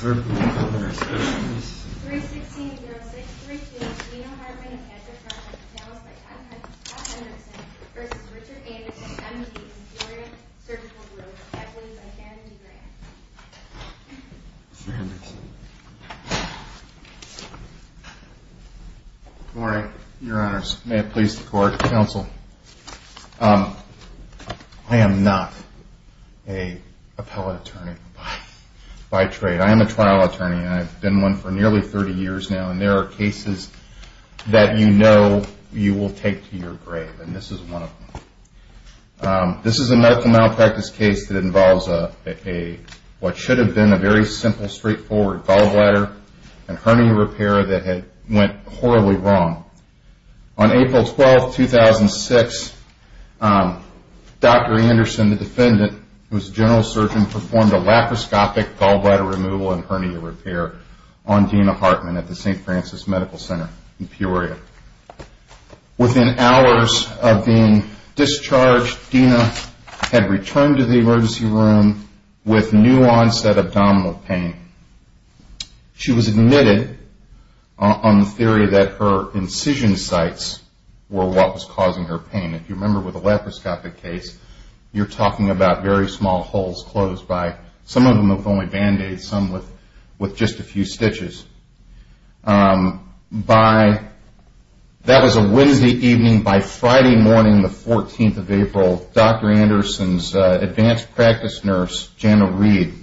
Good morning, your honors. May it please the court, counsel. I am not an appellate attorney. I am a trial attorney, and I have been one for nearly 30 years now, and there are cases that you know you will take to your grave, and this is one of them. This is a medical malpractice case that involves what should have been a very simple, straightforward gallbladder and hernia repair that went horribly wrong. On April 12, 2006, Dr. Anderson, the defendant, who was a general surgeon, performed a laparoscopic gallbladder removal and hernia repair on Dena Hartman at the St. Francis Medical Center in Peoria. Within hours of being discharged, Dena had returned to the emergency room with new onset abdominal pain. She was admitted on the theory that her incision sites were what was causing her pain. If you remember with a laparoscopic case, you are talking about very small holes closed by some of them with only band-aids, some with just a few stitches. That was a Wednesday evening. By Friday morning, the 14th of April, Dr. Anderson's advanced practice nurse, Janna Reed,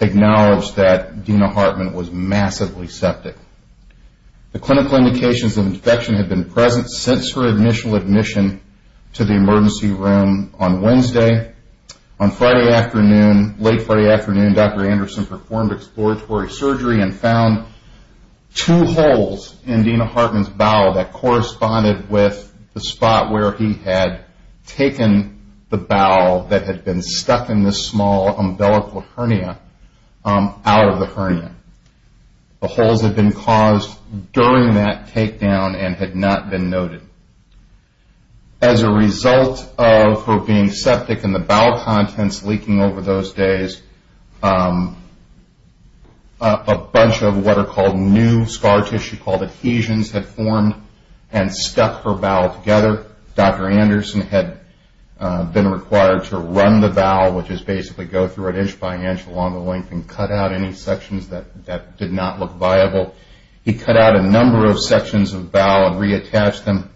acknowledged that Dena Hartman was massively septic. The clinical indications of infection had been present since her initial admission to the emergency room on Wednesday. On Friday afternoon, late Friday afternoon, Dr. Anderson performed exploratory surgery and found two holes in Dena Hartman's bowel that corresponded with the spot where he had taken the bowel that had been stuck in this small umbilical hernia out of the hernia. The holes had been caused during that takedown and had not been noted. As a result of her being septic and the bowel contents leaking over those days, a bunch of what are called new scar tissue called adhesions had formed and stuck her bowel together. Dr. Anderson had been required to run the bowel, which is basically go through an inch-by-inch along the length and cut out any sections that did not look viable. He cut out a number of sections of bowel and reattached them.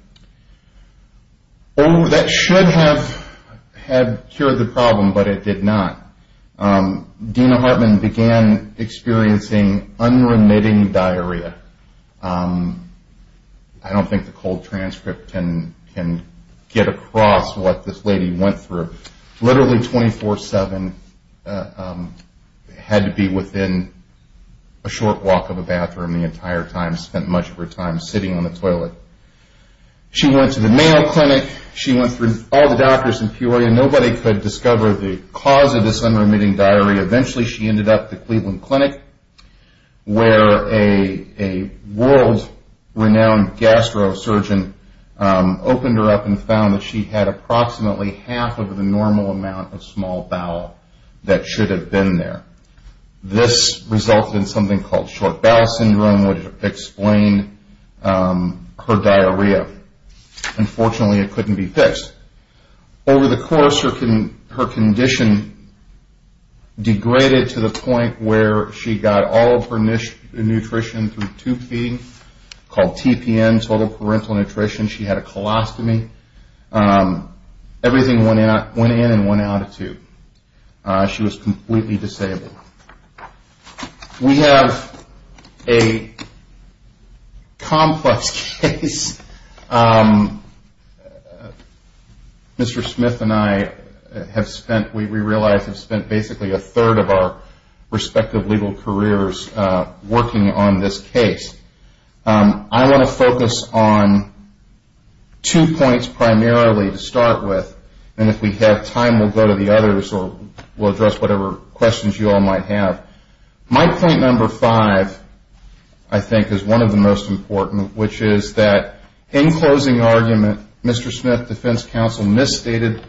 That should have cured the problem, but it did not. Dena Hartman began experiencing unremitting diarrhea. I don't think the cold transcript can get across what this lady went through. Literally 24-7, had to be within a short walk of a bathroom the entire time, spent much of her time sitting on the toilet. She went to the Mayo Clinic. She went through all the doctors in Peoria. Nobody could discover the cause of this unremitting diarrhea. Eventually, she ended up at the Cleveland Clinic, where a world-renowned gastro surgeon opened her up and found that she had approximately half of the normal amount of small bowel that should have been there. This resulted in something called short bowel syndrome, which explained her diarrhea. Unfortunately, it couldn't be fixed. Over the course, her condition degraded to the point where she got all of her nutrition through tube feeding, called TPN, Total Parental Nutrition. She had a colostomy. Everything went in and went out of tube. She was completely disabled. We have a complex case. Mr. Smith and I, we realize, have spent basically a third of our respective legal careers working on this case. I want to focus on two points primarily to start with. If we have time, we'll go to the others, or we'll address whatever questions you all might have. My point number five, I think, is one of the most important, which is that in closing argument, Mr. Smith's defense counsel misstated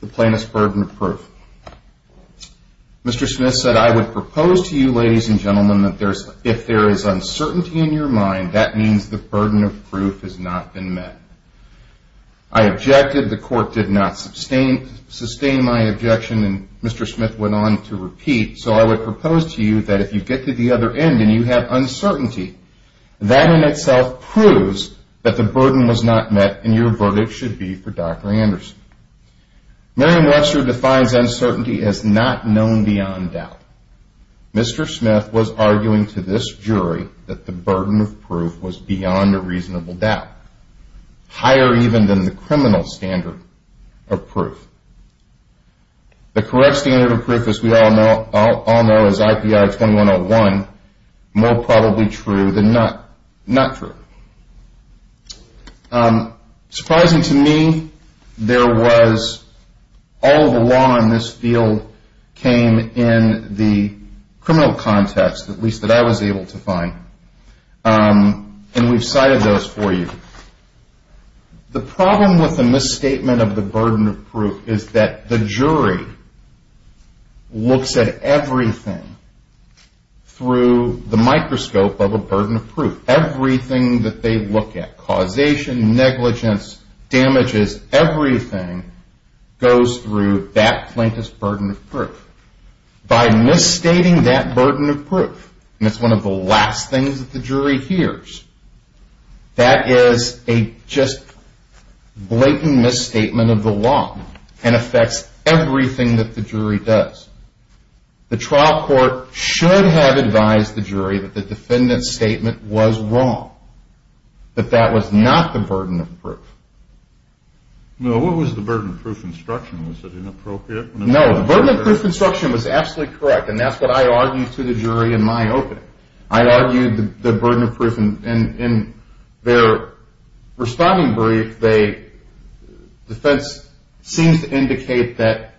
the plaintiff's burden of proof. Mr. Smith said, I would propose to you, ladies and gentlemen, that if there is uncertainty in your mind, that means the burden of proof has not been met. I objected. The court did not sustain my objection, and Mr. Smith went on to repeat, so I would propose to you that if you get to the other end and you have uncertainty, that in itself proves that the burden was not met, and your verdict should be for Dr. Anderson. Merriam-Webster defines uncertainty as not known beyond doubt. Mr. Smith was arguing to this jury that the burden of proof was beyond a reasonable doubt, higher even than the criminal standard of proof. The correct standard of proof, as we all know, is IPR 2101, more probably true than not true. Surprising to me, there was all the law in this field came in the criminal context, at least that I was able to find, and we've cited those for you. The problem with the misstatement of the burden of proof is that the jury looks at everything through the microscope of a burden of proof. Everything that they look at, causation, negligence, damages, everything goes through that plaintiff's burden of proof. By misstating that burden of proof, and it's one of the last things that the jury hears, that is a just blatant misstatement of the law, and affects everything that the jury does. The trial court should have advised the jury that the defendant's statement was wrong, that that was not the burden of proof. No, what was the burden of proof instruction? Was it inappropriate? No, the burden of proof instruction was absolutely correct, and that's what I argued to the jury in my opening. I argued the burden of proof, and in their responding brief, the defense seems to indicate that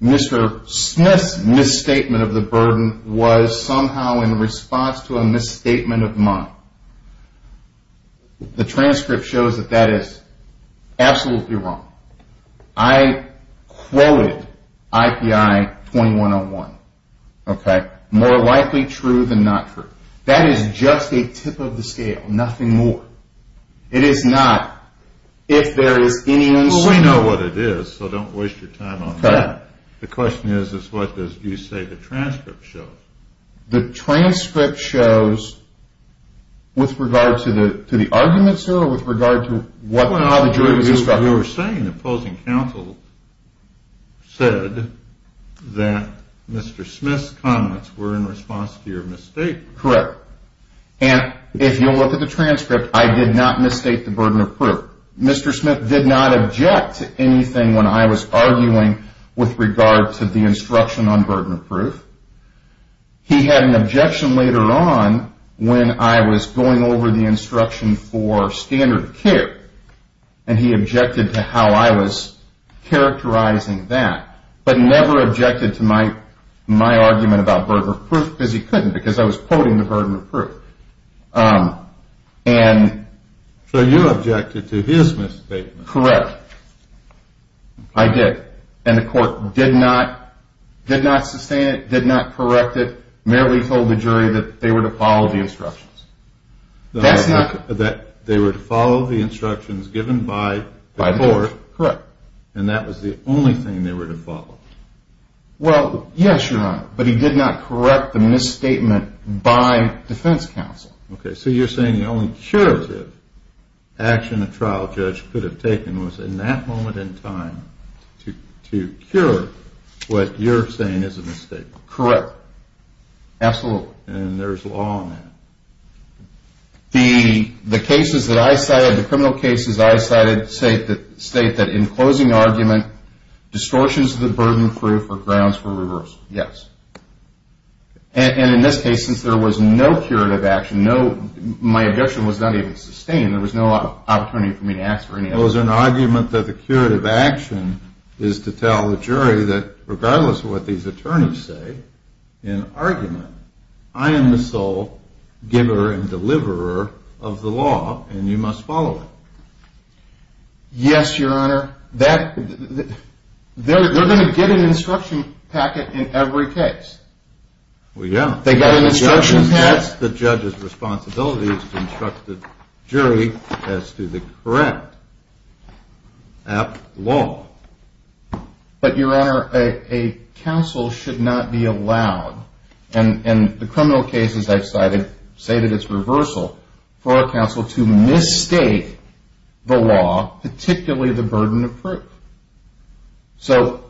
Mr. Smith's misstatement of the burden was somehow in response to a misstatement of mine. The transcript shows that that is absolutely wrong. I quoted IPI 2101, okay, more likely true than not true. That is just a tip of the scale, nothing more. It is not, if there is any uncertainty. Well, we know what it is, so don't waste your time on that. Okay. The question is, is what does you say the transcript shows? The transcript shows, with regard to the arguments here, or with regard to how the jury was instructed? Well, you were saying the opposing counsel said that Mr. Smith's comments were in response to your misstatement. Correct. And if you look at the transcript, I did not misstate the burden of proof. Mr. Smith did not object to anything when I was arguing with regard to the instruction on burden of proof. He had an objection later on when I was going over the instruction for standard of care, and he objected to how I was characterizing that, but never objected to my argument about burden of proof, because he couldn't, because I was quoting the burden of proof. So you objected to his misstatement. Correct. I did, and the court did not sustain it, did not correct it, merely told the jury that they were to follow the instructions. They were to follow the instructions given by the court. Correct. And that was the only thing they were to follow. Well, yes, Your Honor, but he did not correct the misstatement by defense counsel. Okay, so you're saying the only curative action a trial judge could have taken was in that moment in time to cure what you're saying is a mistake. Correct. Absolutely. And there's law on that. The cases that I cited, the criminal cases I cited, state that in closing argument, distortions of the burden of proof or grounds for reversal. Yes. And in this case, since there was no curative action, my objection was not even sustained. There was no opportunity for me to ask for any help. Well, is there an argument that the curative action is to tell the jury that regardless of what these attorneys say in argument, I am the sole giver and deliverer of the law, and you must follow it. Yes, Your Honor. They're going to get an instruction packet in every case. Well, yeah. They got an instruction packet. That's the judge's responsibility to instruct the jury as to the correct law. But, Your Honor, a counsel should not be allowed, and the criminal cases I've cited say that it's reversal for a counsel to mistake the law, particularly the burden of proof. So,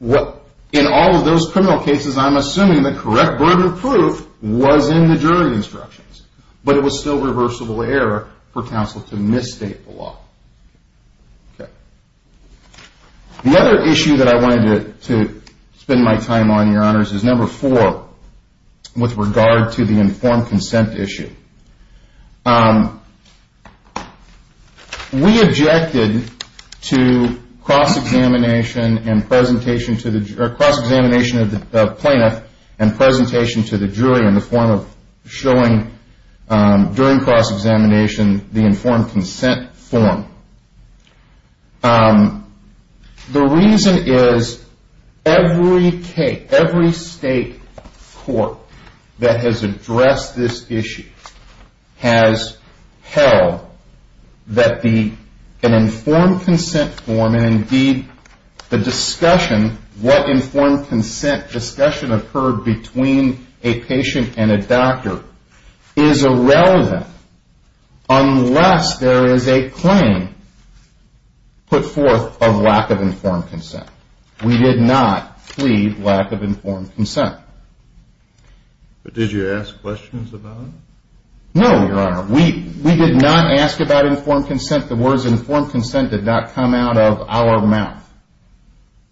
in all of those criminal cases, I'm assuming the correct burden of proof was in the jury instructions, but it was still reversible error for counsel to misstate the law. Okay. The other issue that I wanted to spend my time on, Your Honors, is number four with regard to the informed consent issue. We objected to cross-examination of the plaintiff and presentation to the jury in the form of showing during cross-examination the informed consent form. The reason is every state court that has addressed this issue has held that an informed consent form, and indeed the discussion, what informed consent discussion occurred between a patient and a doctor, is irrelevant unless there is a claim put forth of lack of informed consent. We did not plead lack of informed consent. But did you ask questions about it? No, Your Honor. We did not ask about informed consent. The words informed consent did not come out of our mouth.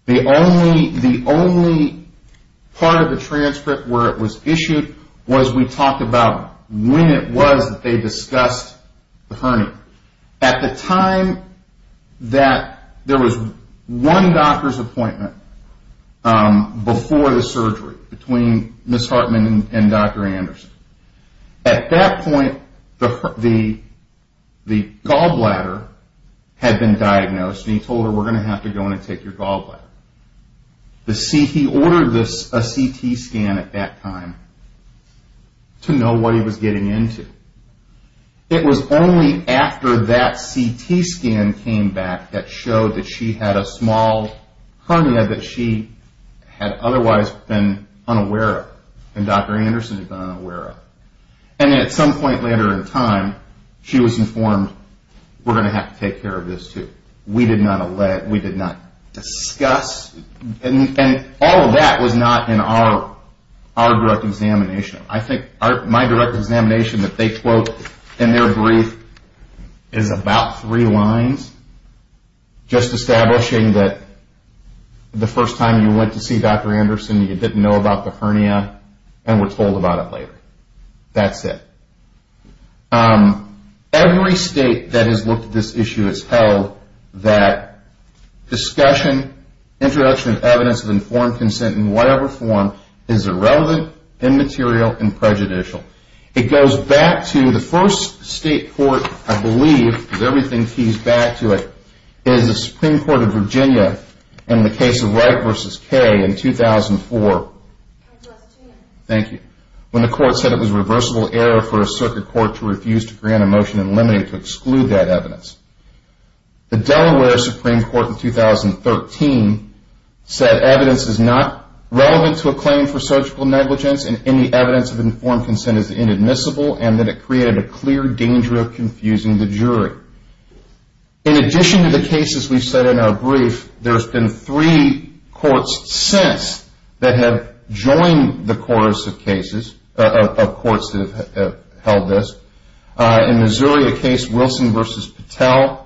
The only part of the transcript where it was issued was we talked about when it was that they discussed the hernia. At the time that there was one doctor's appointment before the surgery between Ms. Hartman and Dr. Anderson. At that point the gallbladder had been diagnosed and he told her we're going to have to go in and take your gallbladder. He ordered a CT scan at that time to know what he was getting into. It was only after that CT scan came back that showed that she had a small hernia that she had otherwise been unaware of. And Dr. Anderson had been unaware of it. And at some point later in time she was informed we're going to have to take care of this too. We did not discuss, and all of that was not in our direct examination. I think my direct examination that they quote in their brief is about three lines, just establishing that the first time you went to see Dr. Anderson you didn't know about the hernia and were told about it later. That's it. Every state that has looked at this issue has held that discussion, introduction of evidence of informed consent in whatever form, is irrelevant, immaterial, and prejudicial. It goes back to the first state court, I believe, because everything keys back to it, is the Supreme Court of Virginia in the case of Wright v. Kay in 2004. Thank you. When the court said it was a reversible error for a circuit court to refuse to grant a motion and limit it to exclude that evidence. The Delaware Supreme Court in 2013 said evidence is not relevant to a claim for surgical negligence and any evidence of informed consent is inadmissible and that it created a clear danger of confusing the jury. In addition to the cases we've said in our brief, there's been three courts since that have joined the chorus of cases, of courts that have held this. In Missouri, the case Wilson v. Patel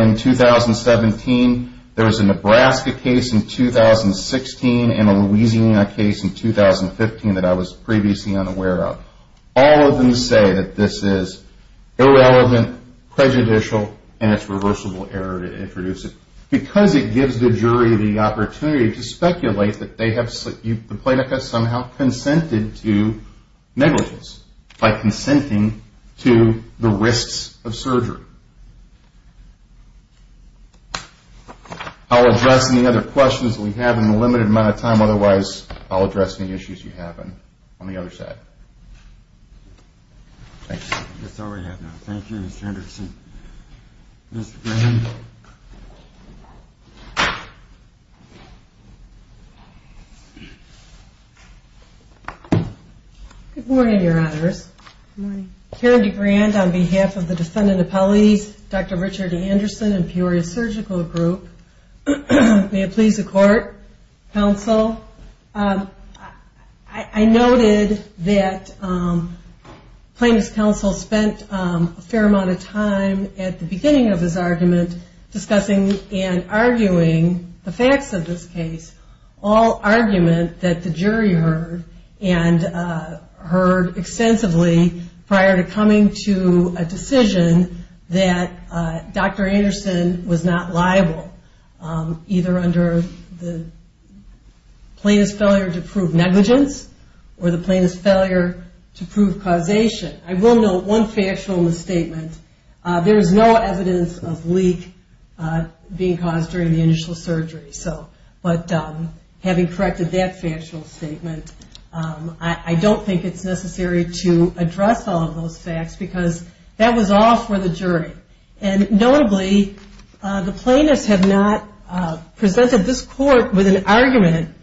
in 2017. There was a Nebraska case in 2016 and a Louisiana case in 2015 that I was previously unaware of. All of them say that this is irrelevant, prejudicial, and it's a reversible error to introduce it, because it gives the jury the opportunity to speculate that the plaintiff has somehow consented to negligence, by consenting to the risks of surgery. I'll address any other questions that we have in the limited amount of time, otherwise I'll address any issues you have on the other side. Thank you. That's all we have now. Thank you, Mr. Henderson. Mr. Graham. Good morning, Your Honors. Karen DeGrand on behalf of the defendant appellees, Dr. Richard Anderson and Peoria Surgical Group. May it please the court, counsel. I noted that plaintiff's counsel spent a fair amount of time at the beginning of this argument discussing and arguing the facts of this case, all argument that the jury heard, and heard extensively prior to coming to a decision that Dr. Anderson was not liable, either under the plaintiff's failure to prove negligence or the plaintiff's failure to prove causation. I will note one factual misstatement. There is no evidence of leak being caused during the initial surgery, but having corrected that factual statement, I don't think it's necessary to address all of those facts, because that was all for the jury. And notably, the plaintiffs have not presented this court with an argument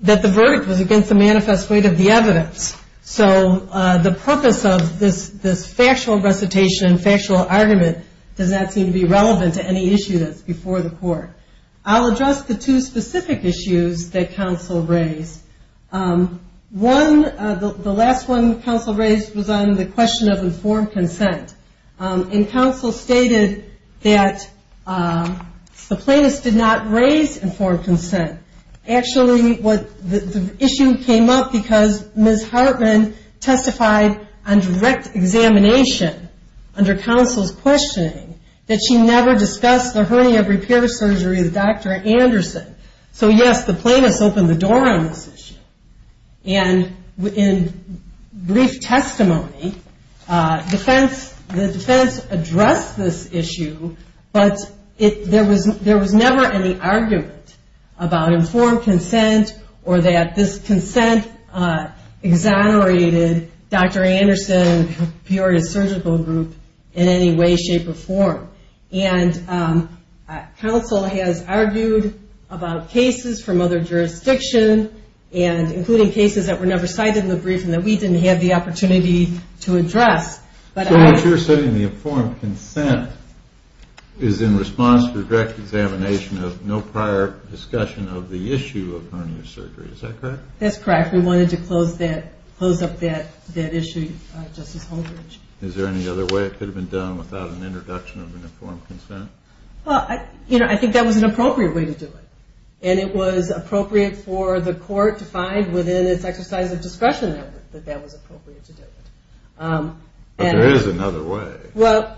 that the verdict was against the manifest weight of the evidence. So the purpose of this factual recitation, factual argument, does not seem to be relevant to any issue that's before the court. I'll address the two specific issues that counsel raised. One, the last one counsel raised, was on the question of informed consent. And counsel stated that the plaintiffs did not raise informed consent. Actually, the issue came up because Ms. Hartman testified on direct examination, under counsel's questioning, that she never discussed the hernia repair surgery with Dr. Anderson. So yes, the plaintiffs opened the door on this issue. And in brief testimony, the defense addressed this issue, but there was never any argument about informed consent, or that this consent exonerated Dr. Anderson and Peoria Surgical Group in any way, shape, or form. And counsel has argued about cases from other jurisdictions, including cases that were never cited in the brief, and that we didn't have the opportunity to address. So what you're saying, the informed consent, is in response to the direct examination of no prior discussion of the issue of hernia surgery. Is that correct? That's correct. We wanted to close up that issue, Justice Holdridge. Is there any other way it could have been done without an introduction of informed consent? Well, I think that was an appropriate way to do it. And it was appropriate for the court to find within its exercise of discretion that that was appropriate to do it. But there is another way,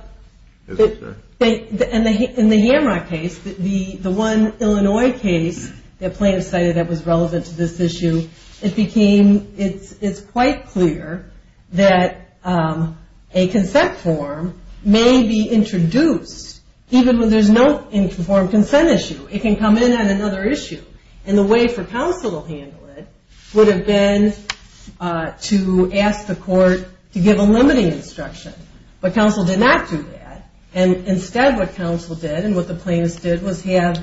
isn't there? In the Yamrock case, the one Illinois case that plaintiffs cited that was relevant to this issue, it's quite clear that a consent form may be introduced, even when there's no informed consent issue. It can come in on another issue. And the way for counsel to handle it would have been to ask the court to give a limiting instruction. But counsel did not do that. And instead what counsel did, and what the plaintiffs did, was have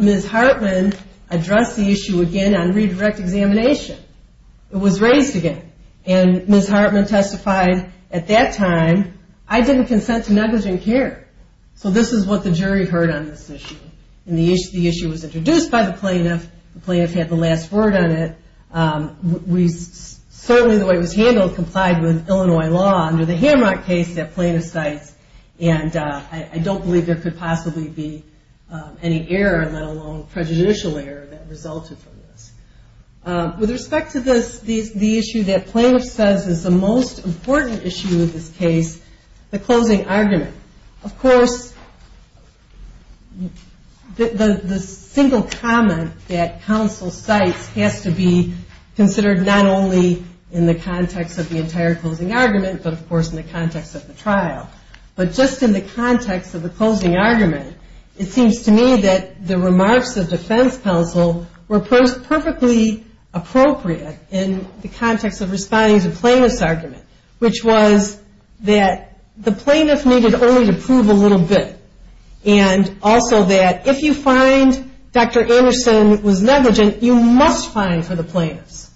Ms. Hartman address the issue again on redirect examination. It was raised again. And Ms. Hartman testified, at that time, I didn't consent to negligent care. So this is what the jury heard on this issue. And the issue was introduced by the plaintiff. The plaintiff had the last word on it. Certainly the way it was handled complied with Illinois law under the Yamrock case that plaintiffs cite. And I don't believe there could possibly be any error, let alone prejudicial error, that resulted from this. With respect to the issue that plaintiff says is the most important issue in this case, the closing argument. Of course, the single comment that counsel cites has to be considered not only in the context of the entire closing argument, but, of course, in the context of the trial. But just in the context of the closing argument, it seems to me that the remarks of defense counsel were perfectly appropriate in the context of responding to plaintiff's argument, which was that the plaintiff needed only to prove a little bit. And also that if you find Dr. Anderson was negligent, you must fine for the plaintiff's.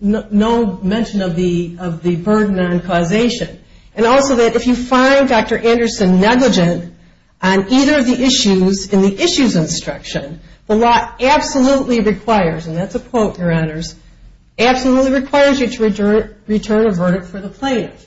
No mention of the burden on causation. And also that if you find Dr. Anderson negligent on either of the issues in the issues instruction, the law absolutely requires, and that's a quote, Your Honors, absolutely requires you to return a verdict for the plaintiff.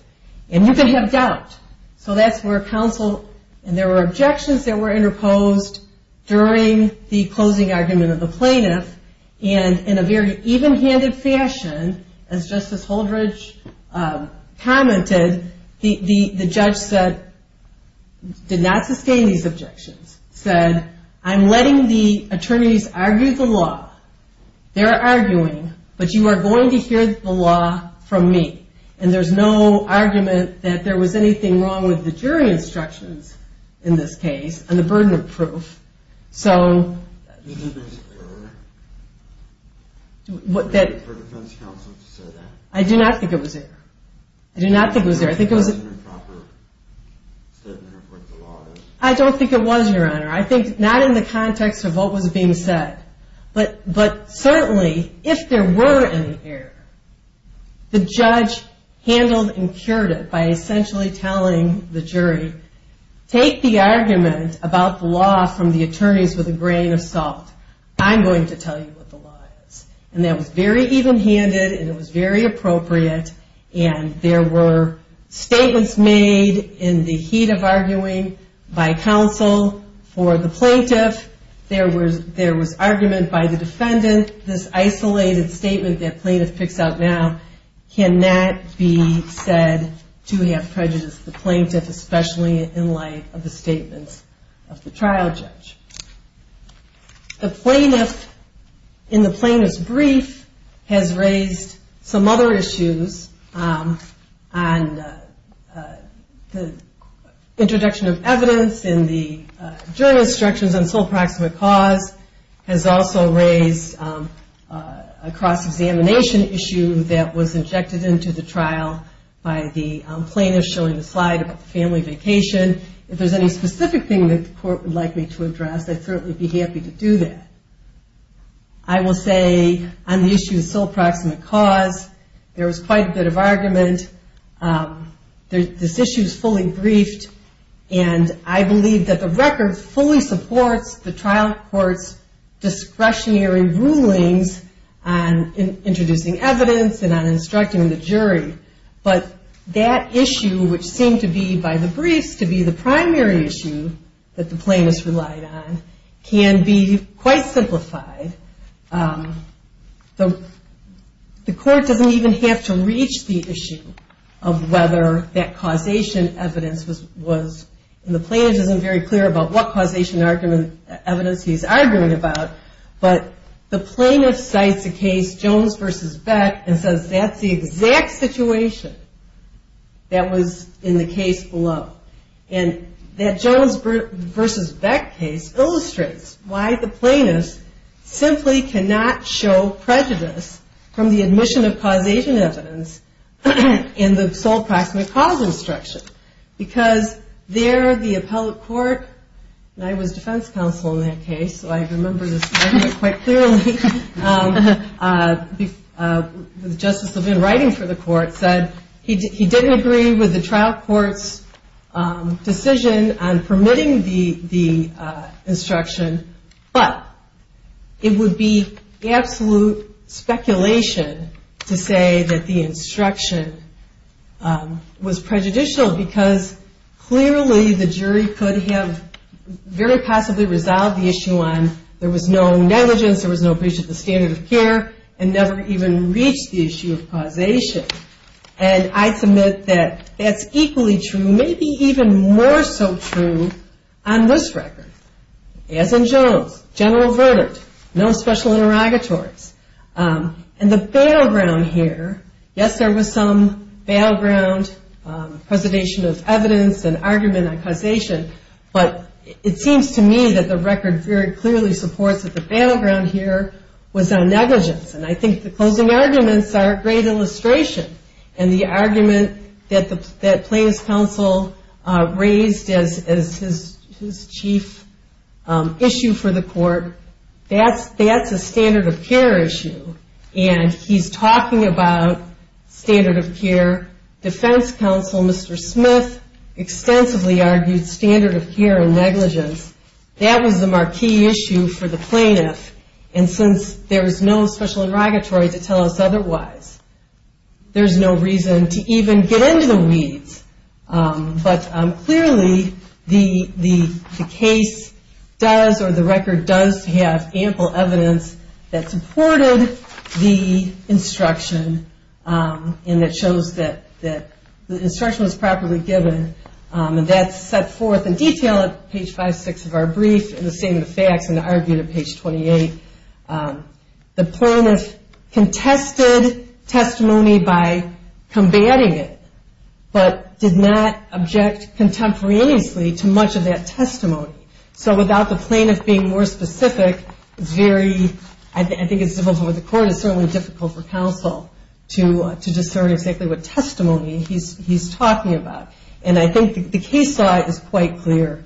And you can have doubt. So that's where counsel, and there were objections that were interposed during the closing argument of the plaintiff. And in a very even-handed fashion, as Justice Holdridge commented, the judge said, did not sustain these objections. Said, I'm letting the attorneys argue the law. They're arguing, but you are going to hear the law from me. And there's no argument that there was anything wrong with the jury instructions in this case and the burden of proof. So... Do you think it was error for defense counsel to say that? I do not think it was error. I do not think it was error. I think it was... It wasn't a proper statement of what the law is. I don't think it was, Your Honor. I think not in the context of what was being said. But certainly, if there were any error, the judge handled and cured it by essentially telling the jury, take the argument about the law from the attorneys with a grain of salt. I'm going to tell you what the law is. And that was very even-handed and it was very appropriate. And there were statements made in the heat of arguing by counsel for the plaintiff. There was argument by the defendant. This isolated statement that plaintiff picks out now cannot be said to have prejudiced the plaintiff, especially in light of the statements of the trial judge. The plaintiff in the plaintiff's brief has raised some other issues on the introduction of evidence in the jury instructions on sole proximate cause, has also raised a cross-examination issue that was injected into the trial by the plaintiff showing the slide about the family vacation. If there's any specific thing that the court would like me to address, I'd certainly be happy to do that. I will say on the issue of sole proximate cause, there was quite a bit of argument. This issue is fully briefed. And I believe that the record fully supports the trial court's discretionary rulings on introducing evidence and on instructing the jury. But that issue, which seemed to be by the briefs to be the primary issue that the plaintiff relied on, can be quite simplified. The court doesn't even have to reach the issue of whether that causation evidence was, and the plaintiff isn't very clear about what causation evidence he's arguing about, but the plaintiff cites the case Jones v. Beck and says that's the exact situation that was in the case below. And that Jones v. Beck case illustrates why the plaintiff simply cannot show prejudice from the admission of causation evidence in the sole proximate cause instruction. Because there the appellate court, and I was defense counsel in that case, so I remember this quite clearly, Justice Levin writing for the court, said he didn't agree with the trial court's decision on permitting the instruction, but it would be absolute speculation to say that the instruction was prejudicial because clearly the jury could have very possibly resolved the issue on there was no negligence, there was no breach of the standard of care, and never even reached the issue of causation. And I submit that that's equally true, maybe even more so true on this record. As in Jones, general verdict, no special interrogatories. And the battleground here, yes there was some battleground presentation of evidence and argument on causation, but it seems to me that the record very clearly supports that the battleground here was on negligence. And I think the closing arguments are a great illustration. And the argument that plaintiff's counsel raised as his chief issue for the court, that's a standard of care issue, and he's talking about standard of care. Defense counsel, Mr. Smith, extensively argued standard of care and negligence. That was the marquee issue for the plaintiff, and since there's no special interrogatory to tell us otherwise, there's no reason to even get into the weeds. But clearly the case does or the record does have ample evidence that supported the instruction and that shows that the instruction was properly given. And that's set forth in detail at page 5, 6 of our brief, and the same in the facts and the argument at page 28. The plaintiff contested testimony by combating it, but did not object contemporaneously to much of that testimony. So without the plaintiff being more specific, I think it's difficult for the court, it's certainly difficult for counsel to discern exactly what testimony he's talking about. And I think the case is quite clear.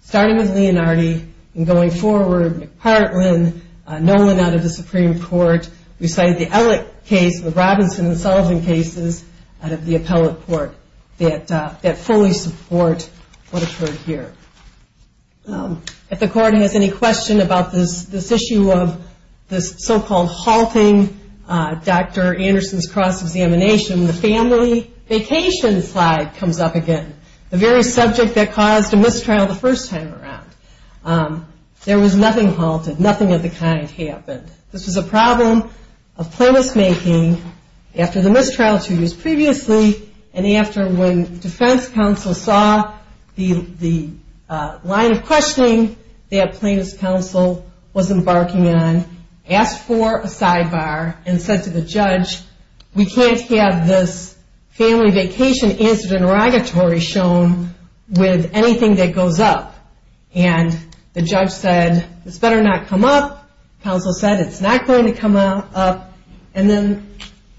Starting with Leonardi and going forward, McPartland, Nolan out of the Supreme Court, we cite the Ellick case, the Robinson and Sullivan cases out of the appellate court that fully support what occurred here. If the court has any question about this issue of this so-called halting Dr. Anderson's cross-examination, the family vacation slide comes up again, the very subject that caused a mistrial the first time around. There was nothing halted. Nothing of the kind happened. This was a problem of plaintiff's making after the mistrial two years previously, and after when defense counsel saw the line of questioning that plaintiff's counsel was embarking on, asked for a sidebar and said to the judge, we can't have this family vacation answer interrogatory shown with anything that goes up. And the judge said, this better not come up. Counsel said, it's not going to come up. And then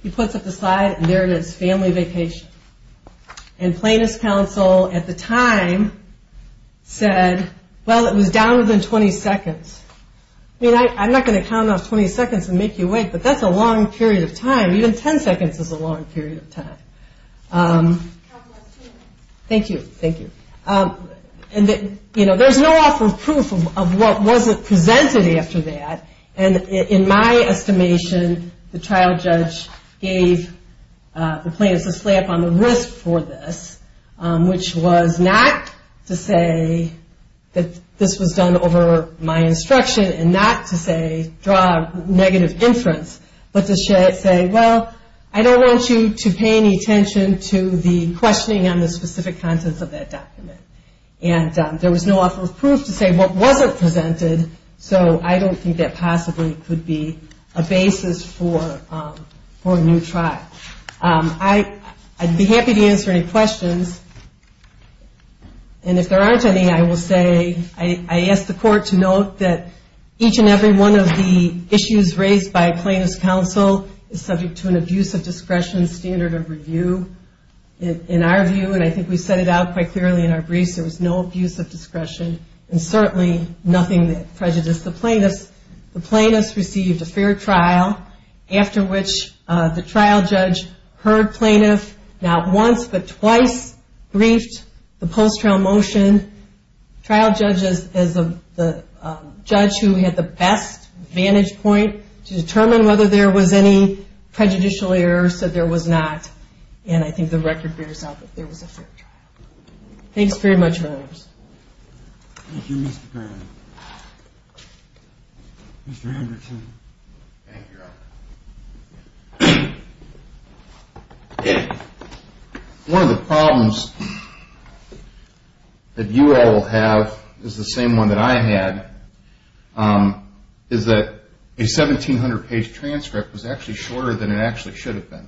he puts up the slide, and there it is, family vacation. And plaintiff's counsel at the time said, well, it was down within 20 seconds. I mean, I'm not going to count off 20 seconds and make you wait, but that's a long period of time. Even 10 seconds is a long period of time. Thank you. Thank you. And, you know, there's no awful proof of what wasn't presented after that. And in my estimation, the trial judge gave the plaintiff's a slap on the wrist for this, which was not to say that this was done over my instruction and not to say draw a negative inference, but to say, well, I don't want you to pay any attention to the questioning on the specific contents of that document. And there was no awful proof to say what wasn't presented, so I don't think that possibly could be a basis for a new trial. I'd be happy to answer any questions. And if there aren't any, I will say I asked the court to note that each and every one of the issues raised by plaintiff's counsel is subject to an abuse of discretion standard of review in our view, and I think we set it out quite clearly in our briefs there was no abuse of discretion and certainly nothing that prejudiced the plaintiffs. The plaintiffs received a fair trial, after which the trial judge heard plaintiff not once but twice, briefed the post-trial motion. Trial judge is the judge who had the best vantage point to determine whether there was any prejudicial errors, said there was not, and I think the record bears out that there was a fair trial. Thanks very much, members. Thank you, Mr. Brown. Mr. Anderton. Thank you, Robert. One of the problems that you all have is the same one that I had, is that a 1,700-page transcript was actually shorter than it actually should have been.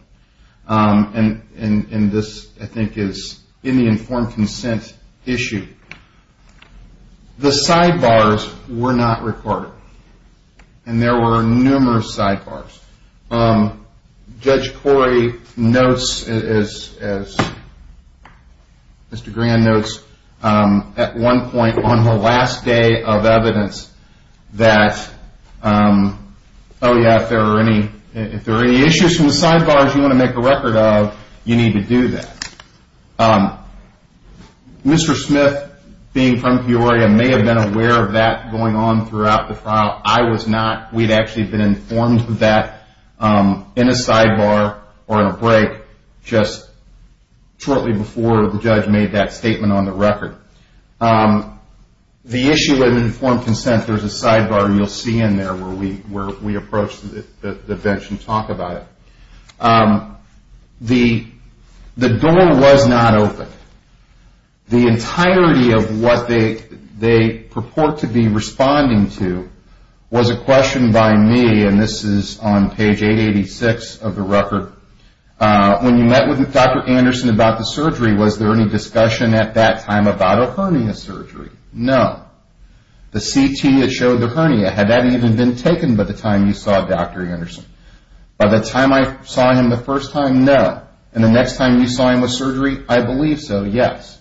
And this, I think, is in the informed consent issue. The sidebars were not recorded, and there were numerous sidebars. Judge Coy notes, as Mr. Grand notes, at one point on the last day of evidence that, oh yeah, if there are any issues from the sidebars you want to make a record of, you need to do that. Mr. Smith, being from Peoria, may have been aware of that going on throughout the trial. I was not. We'd actually been informed of that in a sidebar or in a break just shortly before the judge made that statement on the record. The issue of informed consent, there's a sidebar you'll see in there where we approach the bench and talk about it. The door was not open. The entirety of what they purport to be responding to was a question by me, and this is on page 886 of the record. When you met with Dr. Anderson about the surgery, was there any discussion at that time about a hernia surgery? No. The CT that showed the hernia, had that even been taken by the time you saw Dr. Anderson? By the time I saw him the first time, no. And the next time you saw him with surgery, I believe so, yes.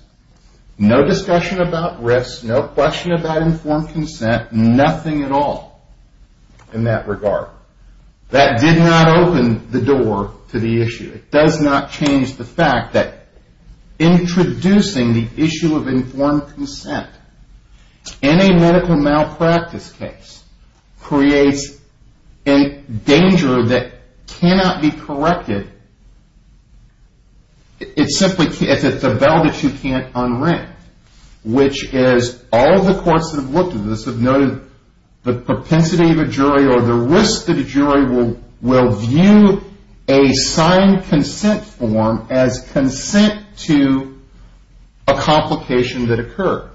No discussion about risks, no question about informed consent, nothing at all in that regard. That did not open the door to the issue. It does not change the fact that introducing the issue of informed consent in a medical malpractice case creates a danger that cannot be corrected. It's a bell that you can't unring. All the courts that have looked at this have noted the propensity of a jury or the risk that a jury will view a signed consent form as consent to a complication that occurred.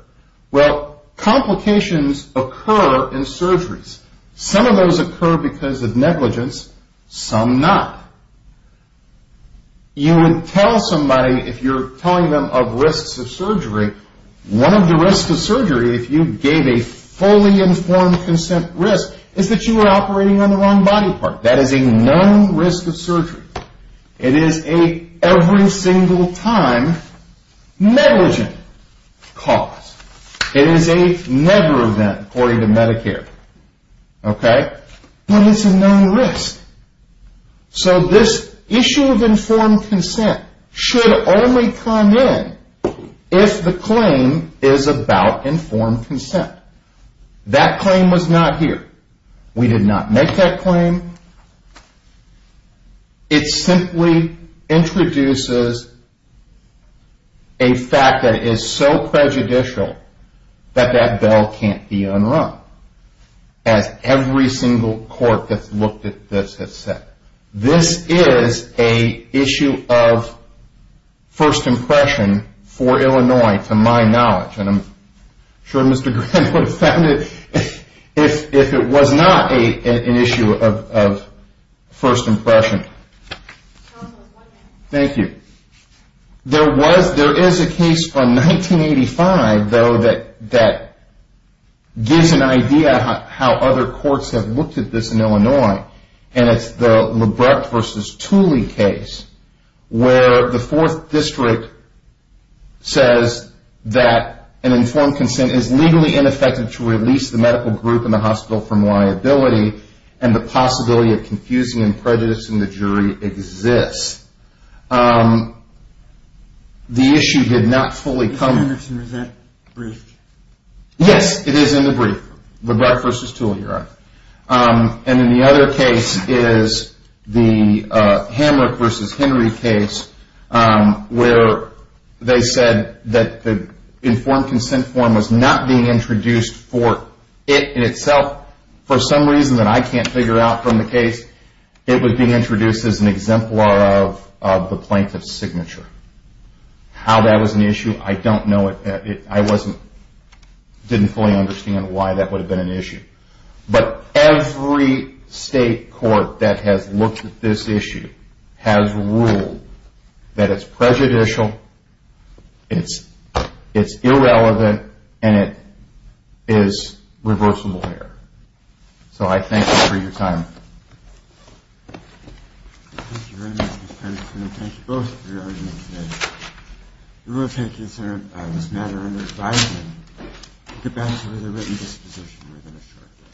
Well, complications occur in surgeries. Some of those occur because of negligence, some not. You would tell somebody, if you're telling them of risks of surgery, one of the risks of surgery if you gave a fully informed consent risk is that you were operating on the wrong body part. That is a known risk of surgery. It is a every single time negligent cause. It is a never event according to Medicare. Okay? But it's a known risk. So this issue of informed consent should only come in if the claim is about informed consent. That claim was not here. We did not make that claim. It simply introduces a fact that is so prejudicial that that bell can't be unrung. As every single court that's looked at this has said. This is an issue of first impression for Illinois to my knowledge. And I'm sure Mr. Grant would have found it if it was not an issue of first impression. Thank you. There is a case from 1985, though, that gives an idea how other courts have looked at this in Illinois. And it's the Lebrecht versus Tooley case where the fourth district says that an informed consent is legally ineffective to release the medical group in the hospital from liability and the possibility of confusing and prejudicing the jury exists. The issue did not fully come. Is that brief? Yes, it is in the brief. Lebrecht versus Tooley, right. And then the other case is the Hamrick versus Henry case where they said that the informed consent form was not being introduced for it in itself. For some reason that I can't figure out from the case, it was being introduced as an exemplar of the plaintiff's signature. How that was an issue, I don't know. I didn't fully understand why that would have been an issue. But every state court that has looked at this issue has ruled that it's prejudicial, it's irrelevant, and it is reversible here. So I thank you for your time. Thank you very much, Mr. Patterson. And thank you both for your arguments today. We will take this matter under advising to get back to the written disposition within a short while.